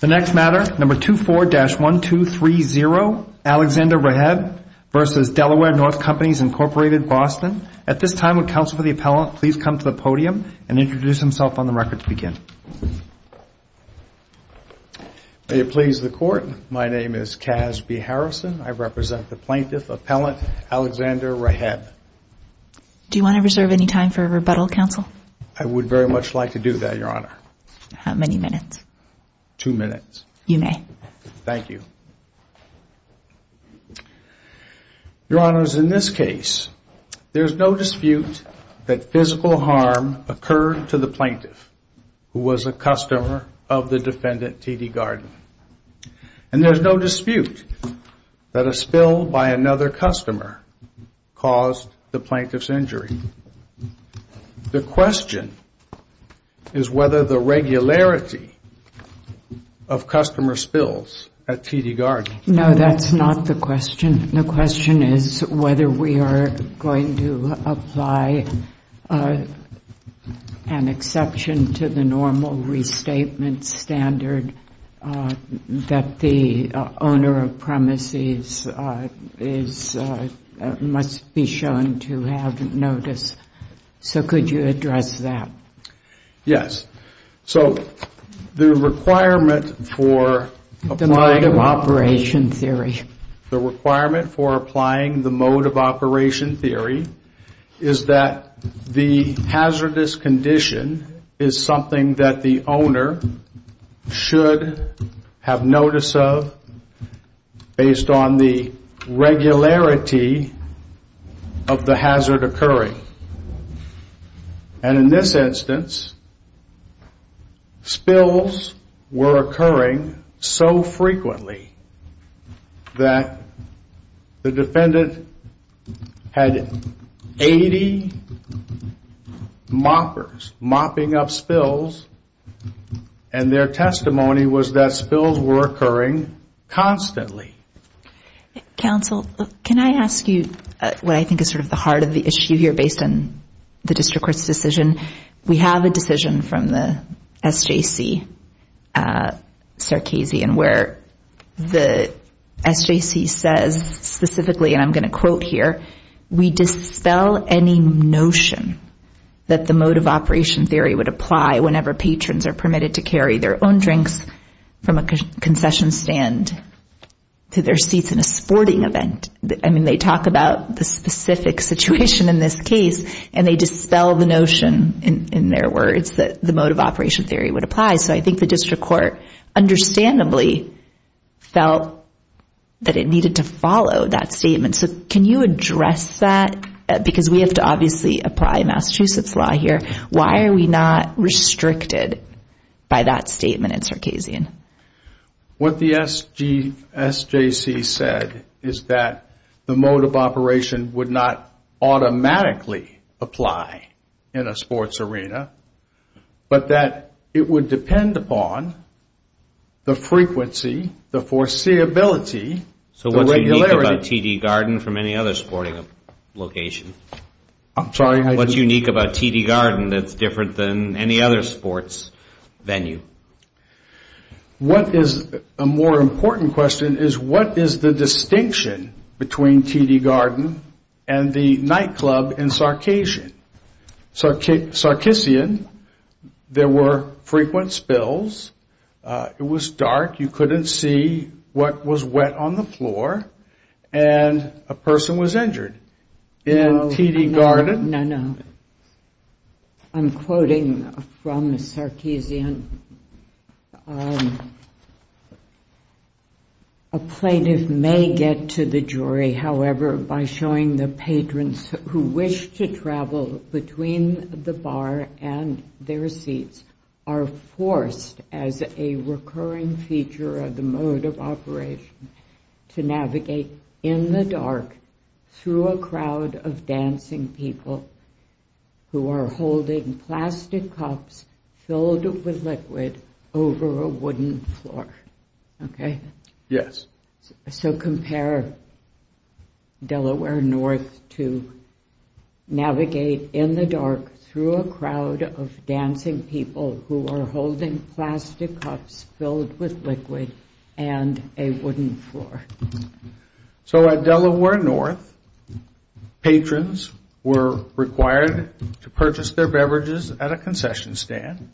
The next matter, No. 24-1230, Alexander Reheb v. Delaware North Companies, Inc., Boston. At this time, would Counsel for the Appellant please come to the podium and introduce himself on the record to begin. May it please the Court, my name is Cass B. Harrison. I represent the plaintiff, Appellant Alexander Reheb. Do you want to reserve any time for rebuttal, Counsel? I would very much like to do that, Your Honor. How many minutes? Two minutes. You may. Thank you. Your Honors, in this case, there's no dispute that physical harm occurred to the plaintiff who was a customer of the defendant, T.D. Gardner. And there's no dispute that a spill by another customer caused the plaintiff's injury. The question is whether the regularity of customer spills at T.D. Gardner. No, that's not the question. The question is whether we are going to apply an exception to the normal restatement standard that the owner of premises must be shown to have notice. So could you address that? Yes. So the requirement for applying the mode of operation theory is that the hazardous condition is something that the owner should have notice of based on the regularity of the hazard occurring. And in this instance, spills were occurring so frequently that the defendant had 80 moppers mopping up spills and their testimony was that spills were occurring constantly. Counsel, can I ask you what I think is sort of the heart of the issue here based on the district court's decision? We have a decision from the SJC, Sarkisian, where the SJC says specifically, and I'm going to quote here, we dispel any notion that the mode of operation theory would apply whenever patrons are permitted to carry their own drinks from a concession stand to their seats in a sporting event. I mean, they talk about the specific situation in this case and they dispel the notion, in their words, that the mode of operation theory would apply. So I think the district court understandably felt that it needed to follow that statement. So can you address that? Because we have to obviously apply Massachusetts law here. Why are we not restricted by that statement in Sarkisian? What the SJC said is that the mode of operation would not automatically apply in a sports arena, but that it would depend upon the frequency, the foreseeability, the regularity. So what's unique about TD Garden from any other sporting location? I'm sorry? What's unique about TD Garden that's different than any other sports venue? What is a more important question is, what is the distinction between TD Garden and the nightclub in Sarkisian? Sarkisian, there were frequent spills. It was dark. You couldn't see what was wet on the floor. And a person was injured. In TD Garden? No, no. I'm quoting from Sarkisian. A plaintiff may get to the jury, however, by showing the patrons who wish to travel between the bar and their seats are forced as a recurring feature of the mode of operation to navigate in the dark through a crowd of dancing people who are holding plastic cups filled with liquid over a wooden floor. So compare Delaware North to navigate in the dark through a crowd of dancing people who are holding plastic cups filled with liquid and a wooden floor. So at Delaware North, patrons were required to purchase their beverages at a concession stand,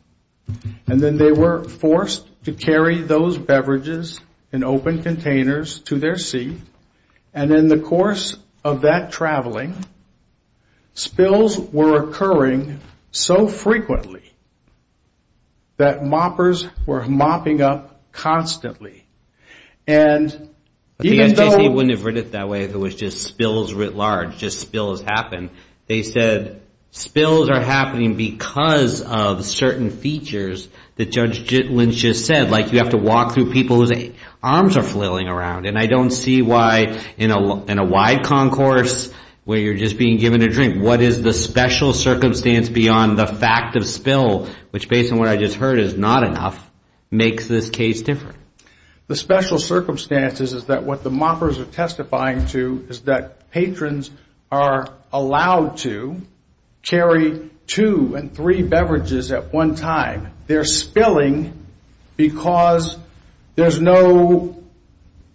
and then they were forced to carry those beverages in open containers to their seat. And in the course of that traveling, spills were occurring so frequently that moppers were mopping up constantly. The SJC wouldn't have read it that way if it was just spills writ large, just spills happen. They said spills are happening because of certain features that Judge Lynch just said, like you have to walk through people whose arms are flailing around. And I don't see why in a wide concourse where you're just being given a drink, what is the special circumstance beyond the fact of spill, which based on what I just heard is not enough, makes this case different. The special circumstances is that what the moppers are testifying to is that patrons are allowed to carry two and three beverages at one time. They're spilling because there's no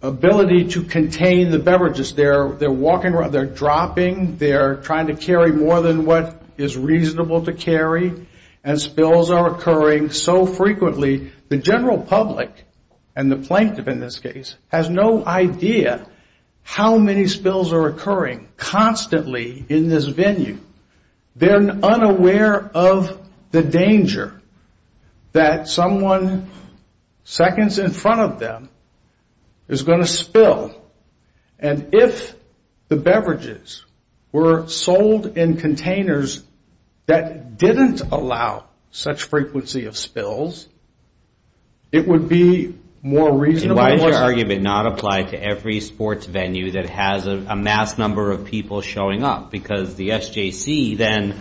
ability to contain the beverages. They're walking around, they're dropping, they're trying to carry more than what is reasonable to carry, and spills are occurring so frequently. The general public, and the plaintiff in this case, has no idea how many spills are occurring constantly in this venue. They're unaware of the danger that someone seconds in front of them is going to spill. And if the beverages were sold in containers that didn't allow such frequency of spills, it would be more reasonable. Why is your argument not applied to every sports venue that has a mass number of people showing up? Because the SJC then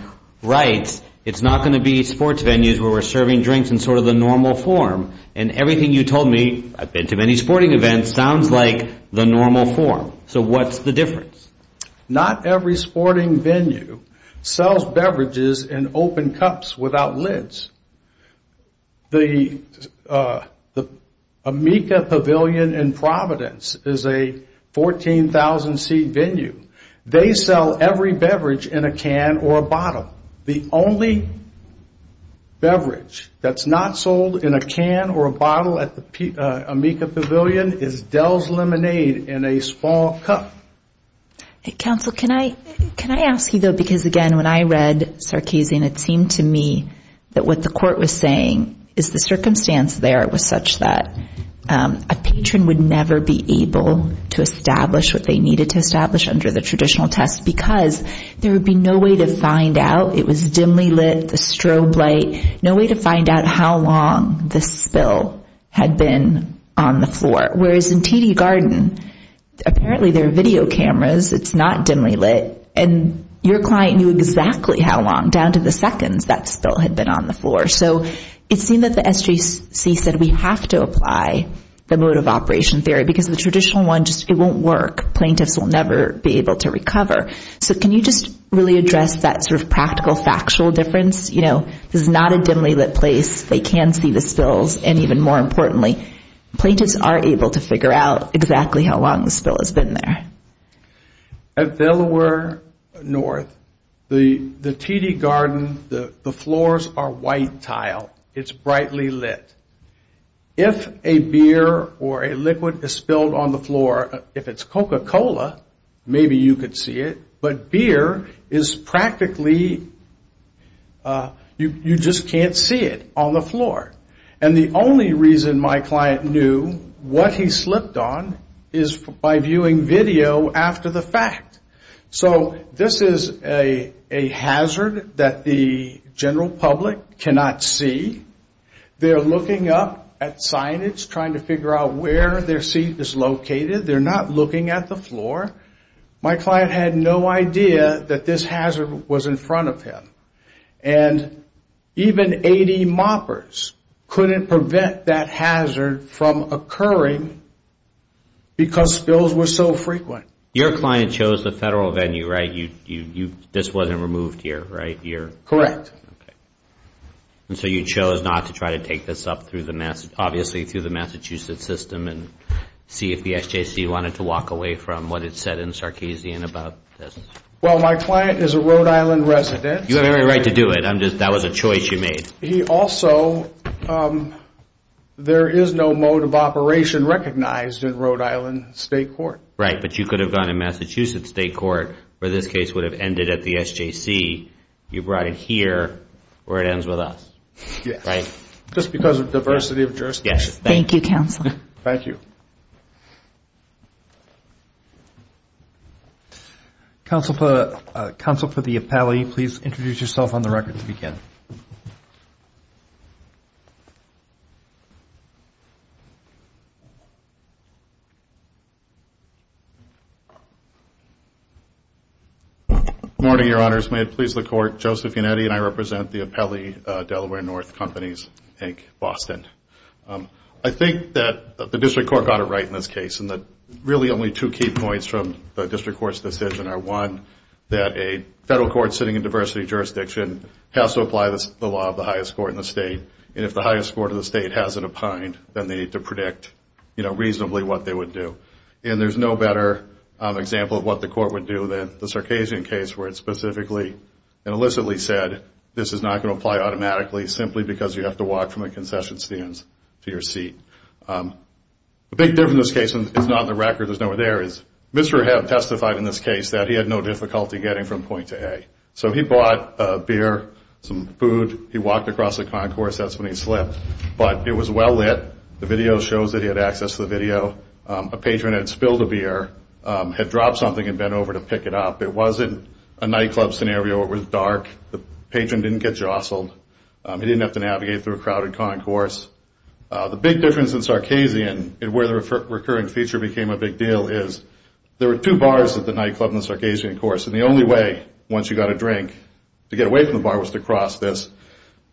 writes, it's not going to be sports venues where we're serving drinks in sort of the normal form. And everything you told me, I've been to many sporting events, sounds like the normal form. So what's the difference? Not every sporting venue sells beverages in open cups without lids. The Amica Pavilion in Providence is a 14,000-seat venue. They sell every beverage in a can or a bottle. The only beverage that's not sold in a can or a bottle at the Amica Pavilion is Dell's Lemonade in a small cup. Counsel, can I ask you, though, because, again, when I read Sarkisian, it seemed to me that what the court was saying is the circumstance there was such that a patron would never be able to establish what they needed to establish under the traditional test because there would be no way to find out. It was dimly lit, the strobe light, no way to find out how long the spill had been on the floor. Whereas in TD Garden, apparently there are video cameras. It's not dimly lit. And your client knew exactly how long, down to the seconds, that spill had been on the floor. So it seemed that the SGC said we have to apply the mode of operation theory because the traditional one, it won't work. Plaintiffs will never be able to recover. So can you just really address that sort of practical, factual difference? This is not a dimly lit place. They can see the spills, and even more importantly, plaintiffs are able to figure out exactly how long the spill has been there. At Delaware North, the TD Garden, the floors are white tile. It's brightly lit. If a beer or a liquid is spilled on the floor, if it's Coca-Cola, maybe you could see it. But beer is practically, you just can't see it on the floor. And the only reason my client knew what he slipped on is by viewing video after the fact. So this is a hazard that the general public cannot see. They're looking up at signage, trying to figure out where their seat is located. They're not looking at the floor. My client had no idea that this hazard was in front of him. And even AD moppers couldn't prevent that hazard from occurring because spills were so frequent. Your client chose the federal venue, right? This wasn't removed here, right? Correct. And so you chose not to try to take this up through the Massachusetts system and see if the SJC wanted to walk away from what it said in Sarkeesian about this? Well, my client is a Rhode Island resident. You have every right to do it. That was a choice you made. He also, there is no mode of operation recognized in Rhode Island state court. Right, but you could have gone to Massachusetts state court where this case would have ended at the SJC. You brought it here, or it ends with us, right? Just because of diversity of jurisdictions. Thank you, Counselor. Thank you. Counsel for the appellee, please introduce yourself on the record to begin. Good morning, Your Honors. May it please the Court, Joseph Unetti, and I represent the appellee, Delaware North Companies, Inc., Boston. I think that the district court got it right in this case, and that really only two key points from the district court's decision are, one, that a federal court sitting in diversity of jurisdiction has to apply the law of the highest court in the state, and if the highest court of the state has it opined, then they need to predict reasonably what they would do. And there's no better example of what the court would do than the Sarkeesian case where it specifically and illicitly said this is not going to apply automatically simply because you have to walk from a concession stand to your seat. The big difference in this case, and it's not on the record, there's nowhere there, is Mr. Hebb testified in this case that he had no difficulty getting from point to A. So he bought a beer, some food, he walked across the concourse, that's when he slipped, but it was well lit. The video shows that he had access to the video. A patron had spilled a beer, had dropped something, and bent over to pick it up. It wasn't a nightclub scenario. It was dark. The patron didn't get jostled. He didn't have to navigate through a crowded concourse. The big difference in Sarkeesian and where the recurring feature became a big deal is there were two bars at the nightclub in the Sarkeesian course, and the only way, once you got a drink, to get away from the bar was to cross this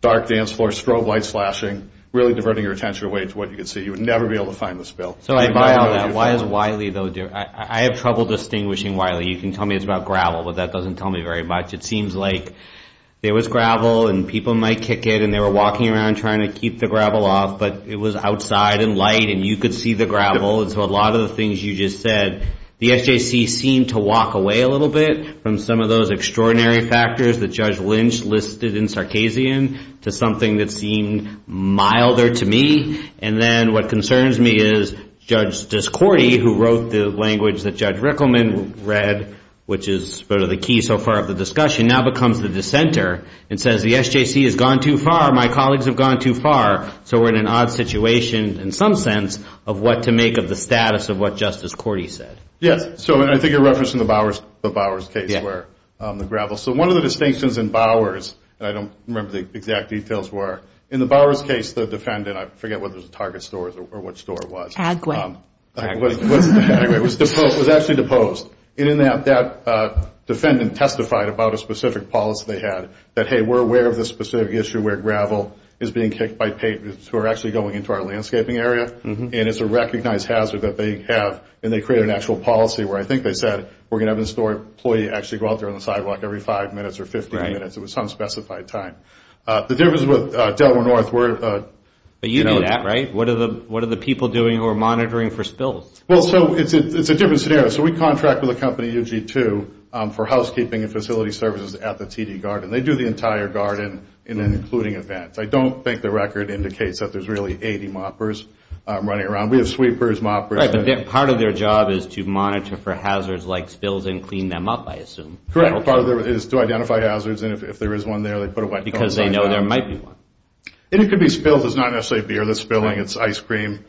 dark dance floor, strobe lights flashing, really diverting your attention away to what you could see. You would never be able to find the spill. Why is Wiley, though, different? I have trouble distinguishing Wiley. You can tell me it's about gravel, but that doesn't tell me very much. It seems like there was gravel, and people might kick it, and they were walking around trying to keep the gravel off, but it was outside and light, and you could see the gravel. So a lot of the things you just said, the SJC seemed to walk away a little bit from some of those extraordinary factors that Judge Lynch listed in Sarkeesian to something that seemed milder to me. And then what concerns me is Judge Discordy, who wrote the language that Judge Rickleman read, which is sort of the key so far of the discussion, now becomes the dissenter and says the SJC has gone too far, my colleagues have gone too far, so we're in an odd situation in some sense of what to make of the status of what Justice Cordy said. Yes, so I think you're referencing the Bowers case where the gravel. So one of the distinctions in Bowers, and I don't remember the exact details where, in the Bowers case, the defendant, I forget whether it was a Target store or what store it was. Agway. It was actually deposed. And in that, that defendant testified about a specific policy they had that, hey, we're aware of this specific issue where gravel is being kicked by patrons who are actually going into our landscaping area, and it's a recognized hazard that they have, and they created an actual policy where I think they said we're going to have a store employee actually go out there on the sidewalk every five minutes or 15 minutes. It was unspecified time. The difference with Delaware North, we're. But you do that, right? What are the people doing who are monitoring for spills? Well, so it's a different scenario. So we contract with a company, UG2, for housekeeping and facility services at the TD Garden. They do the entire garden, including events. I don't think the record indicates that there's really 80 moppers running around. We have sweepers, moppers. Right, but part of their job is to monitor for hazards like spills and clean them up, I assume. Correct. Part of it is to identify hazards, and if there is one there, they put a white coat on it. Because they know there might be one. And it could be spills. It's not necessarily beer that's spilling. It's ice cream,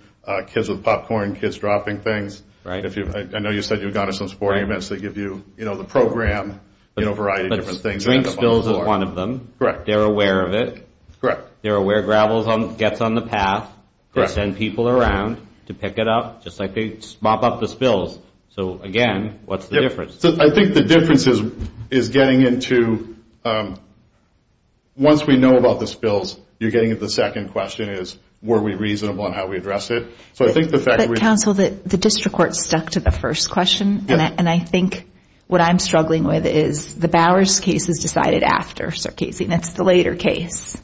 kids with popcorn, kids dropping things. I know you said you've gone to some sporting events. They give you the program, a variety of different things. But drink spills is one of them. Correct. They're aware of it. Correct. They're aware gravel gets on the path. Correct. They send people around to pick it up, just like they mop up the spills. So, again, what's the difference? I think the difference is getting into, once we know about the spills, you're getting at the second question is, were we reasonable in how we addressed it? But, counsel, the district court stuck to the first question. And I think what I'm struggling with is the Bowers case is decided after Circassian. It's the later case.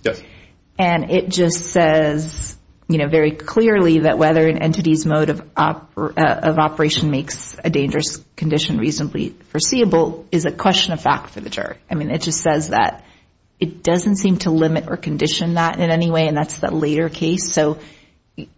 And it just says, you know, very clearly that whether an entity's mode of operation makes a dangerous condition reasonably foreseeable is a question of fact for the jury. I mean, it just says that it doesn't seem to limit or condition that in any way, and that's the later case. So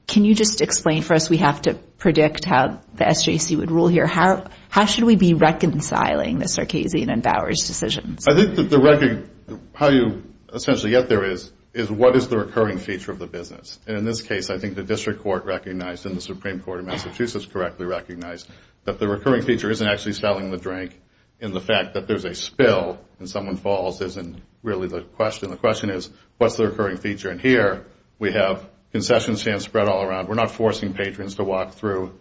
can you just explain for us? We have to predict how the SJC would rule here. How should we be reconciling the Circassian and Bowers decisions? I think how you essentially get there is, what is the recurring feature of the business? And in this case, I think the district court recognized and the Supreme Court of Massachusetts correctly recognized that the recurring feature isn't actually selling the drink and the fact that there's a spill and someone falls isn't really the question. The question is, what's the recurring feature? And here we have concession stands spread all around. We're not forcing patrons to walk through,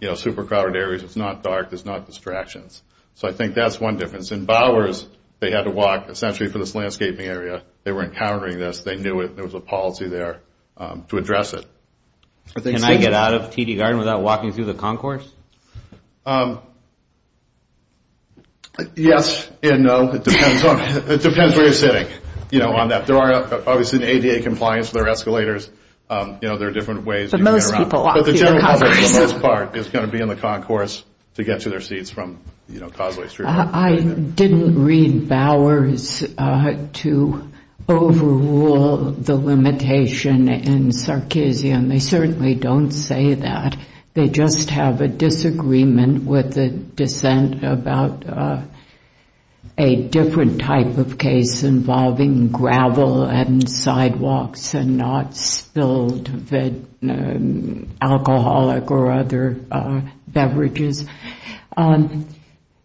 you know, super-crowded areas. It's not dark. There's not distractions. So I think that's one difference. In Bowers, they had to walk essentially for this landscaping area. They were encountering this. They knew it. There was a policy there to address it. Can I get out of TD Garden without walking through the concourse? Yes and no. It depends where you're sitting, you know, on that. There are obviously ADA compliance with our escalators. You know, there are different ways you can get around. But most people walk through the concourse. But the general public for the most part is going to be in the concourse to get to their seats from, you know, Causeway Street. I didn't read Bowers to overrule the limitation in Sarkeesian. They certainly don't say that. They just have a disagreement with the dissent about a different type of case involving gravel and sidewalks and not spilled alcoholic or other beverages.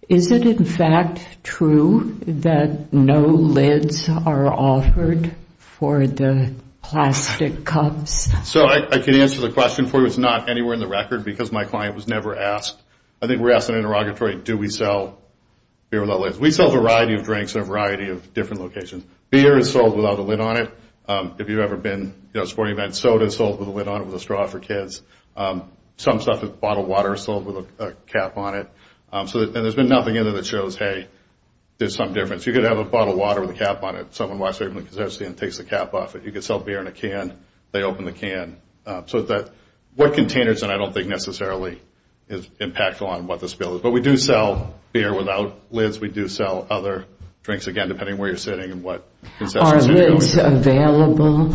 Is it, in fact, true that no lids are offered for the plastic cups? So I can answer the question for you. It's not anywhere in the record because my client was never asked. I think we were asked in an interrogatory, do we sell beer without lids? We sell a variety of drinks in a variety of different locations. Beer is sold without a lid on it. If you've ever been to a sporting event, soda is sold with a lid on it with a straw for kids. Some stuff with bottled water is sold with a cap on it. And there's been nothing in there that shows, hey, there's some difference. You could have a bottle of water with a cap on it. Someone walks through the concession stand and takes the cap off it. You could sell beer in a can. They open the can. So what containers, and I don't think necessarily is impactful on what the spill is. But we do sell beer without lids. We do sell other drinks, again, depending on where you're sitting and what concession stands you go to. Are lids available?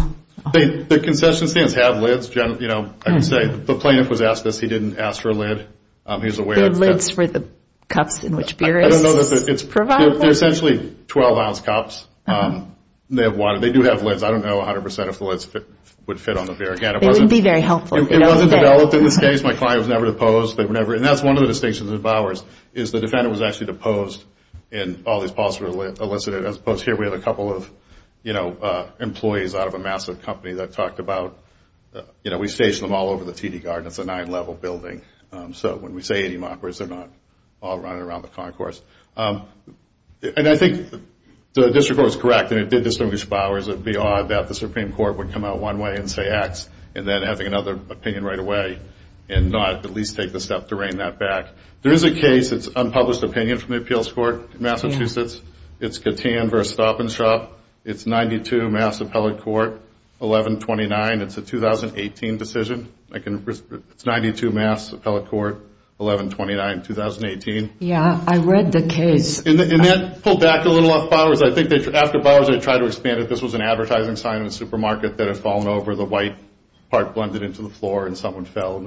The concession stands have lids. I can say the plaintiff was asked this. He didn't ask for a lid. Lids for the cups in which beer is provided? They're essentially 12-ounce cups. They have water. They do have lids. I don't know 100% if the lids would fit on the beer. It wouldn't be very helpful. It wasn't developed in this case. My client was never deposed. And that's one of the distinctions of ours is the defendant was actually deposed and all these policies were elicited. As opposed to here, we had a couple of employees out of a massive company that talked about, you know, we station them all over the TD Garden. It's a nine-level building. So when we say 80 mockers, they're not all running around the concourse. And I think the district court was correct, and it did distinguish Bowers. It would be odd that the Supreme Court would come out one way and say X and then having another opinion right away and not at least take the step to rein that back. There is a case. It's unpublished opinion from the appeals court in Massachusetts. It's Catan v. Stop-and-Shop. It's 92 Mass. Appellate Court, 11-29. It's a 2018 decision. It's 92 Mass. Appellate Court, 11-29, 2018. Yeah, I read the case. And that pulled back a little off Bowers. I think after Bowers they tried to expand it. This was an advertising sign in a supermarket that had fallen over. The white part blended into the floor and someone fell.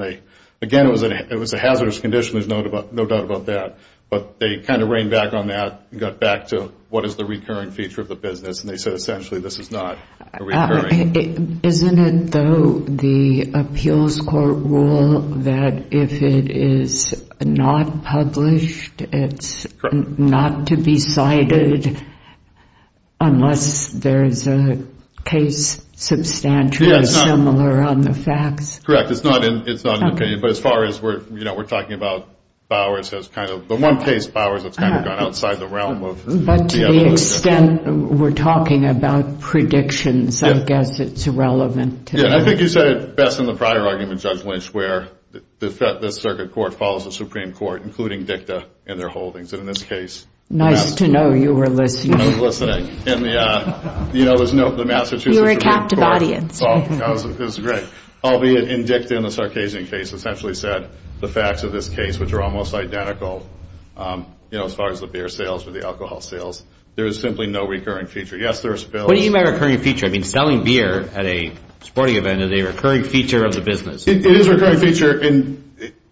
Again, it was a hazardous condition. There's no doubt about that. But they kind of reined back on that and got back to what is the recurring feature of the business, and they said essentially this is not a recurring feature. Isn't it, though, the appeals court rule that if it is not published, it's not to be cited unless there is a case substantially similar on the facts? Correct. It's not an opinion. But as far as we're talking about Bowers, the one case of Bowers that's kind of gone outside the realm of the evidence. But to the extent we're talking about predictions, I guess it's irrelevant. Yeah, I think you said it best in the prior argument, Judge Lynch, where the circuit court follows the Supreme Court, including DICTA, in their holdings. And in this case— Nice to know you were listening. I was listening. You know, there's no— You were a captive audience. That was great. Albeit in DICTA in the Sarkeesian case essentially said the facts of this case, which are almost identical as far as the beer sales or the alcohol sales, there is simply no recurring feature. Yes, there are spills. What do you mean by recurring feature? I mean selling beer at a sporting event is a recurring feature of the business. It is a recurring feature.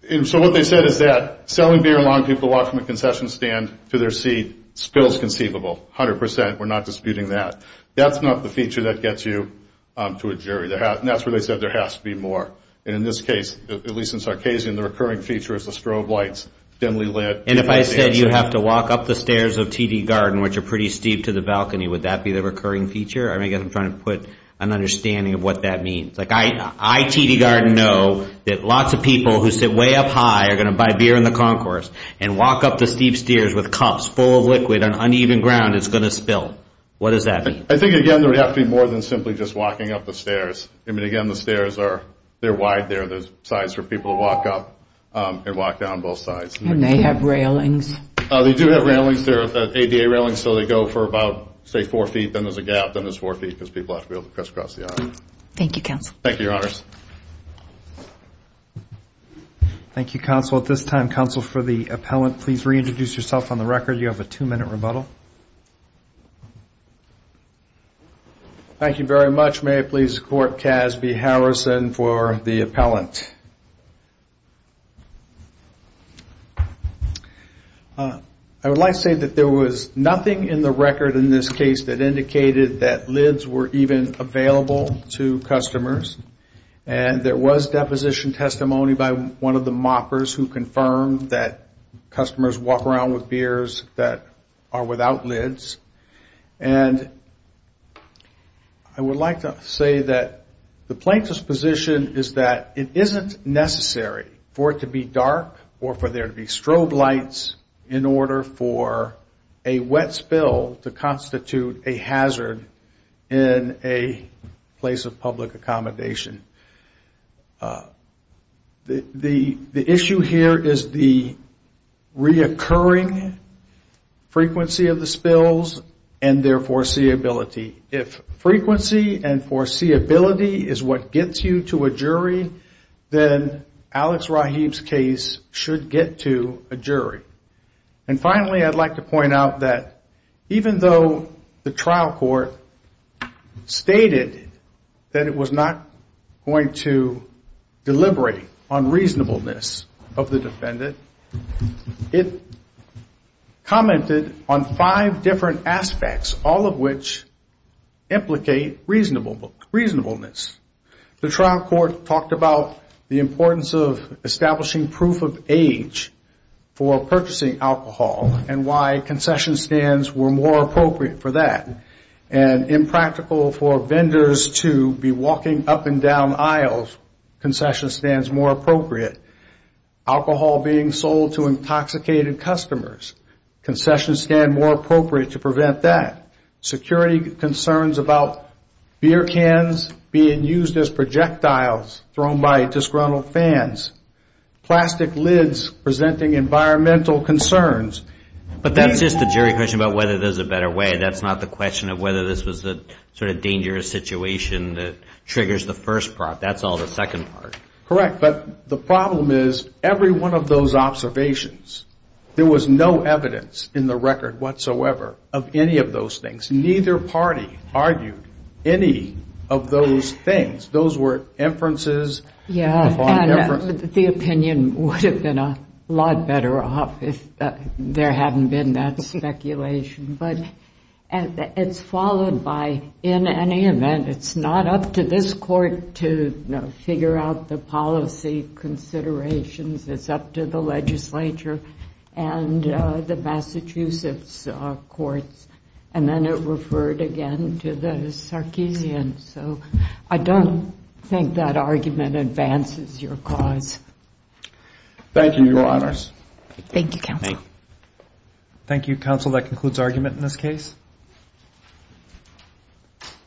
And so what they said is that selling beer to a lot of people walking from a concession stand to their seat, spills conceivable, 100%. We're not disputing that. That's not the feature that gets you to a jury. That's where they said there has to be more. And in this case, at least in Sarkeesian, the recurring feature is the strobe lights dimly lit. And if I said you have to walk up the stairs of TD Garden, which are pretty steep to the balcony, would that be the recurring feature? I guess I'm trying to put an understanding of what that means. Like I, TD Garden, know that lots of people who sit way up high are going to buy beer in the concourse and walk up the steep stairs with cups full of liquid on uneven ground, it's going to spill. What does that mean? I think, again, there would have to be more than simply just walking up the stairs. I mean, again, the stairs are wide there. There's sides for people to walk up and walk down both sides. And they have railings. They do have railings. They're ADA railings, so they go for about, say, four feet, then there's a gap, then there's four feet, because people have to be able to crisscross the aisle. Thank you, Counsel. Thank you, Your Honors. Thank you, Counsel. At this time, Counsel, for the appellant, please reintroduce yourself on the record. You have a two-minute rebuttal. Thank you very much. May I please court Casby Harrison for the appellant? I would like to say that there was nothing in the record in this case that indicated that lids were even available to customers, and there was deposition testimony by one of the moppers who confirmed that customers walk around with beers that are without lids. And I would like to say that the plaintiff's position is that it isn't necessary for it to be dark or for there to be strobe lights in order for a wet spill to constitute a hazard in a place of public accommodation. The issue here is the reoccurring frequency of the spills and their foreseeability. If frequency and foreseeability is what gets you to a jury, then Alex Rahib's case should get to a jury. And finally, I'd like to point out that even though the trial court stated that it was not going to deliberate on reasonableness of the defendant, it commented on five different aspects, all of which implicate reasonableness. The trial court talked about the importance of establishing proof of age for purchasing alcohol and why concession stands were more appropriate for that and impractical for vendors to be walking up and down aisles, concession stands more appropriate. Alcohol being sold to intoxicated customers, concession stands more appropriate to prevent that. Security concerns about beer cans being used as projectiles thrown by disgruntled fans. Plastic lids presenting environmental concerns. But that's just the jury question about whether there's a better way. That's not the question of whether this was a sort of dangerous situation that triggers the first part. That's all the second part. Correct, but the problem is every one of those observations, there was no evidence in the record whatsoever of any of those things. Neither party argued any of those things. Those were inferences. Yeah, and the opinion would have been a lot better off if there hadn't been that speculation. But it's followed by, in any event, it's not up to this court to figure out the policy considerations. It's up to the legislature and the Massachusetts courts. And then it referred again to the Sarkeesian. So I don't think that argument advances your cause. Thank you, Your Honors. Thank you, Counsel. Thank you, Counsel. That concludes argument in this case.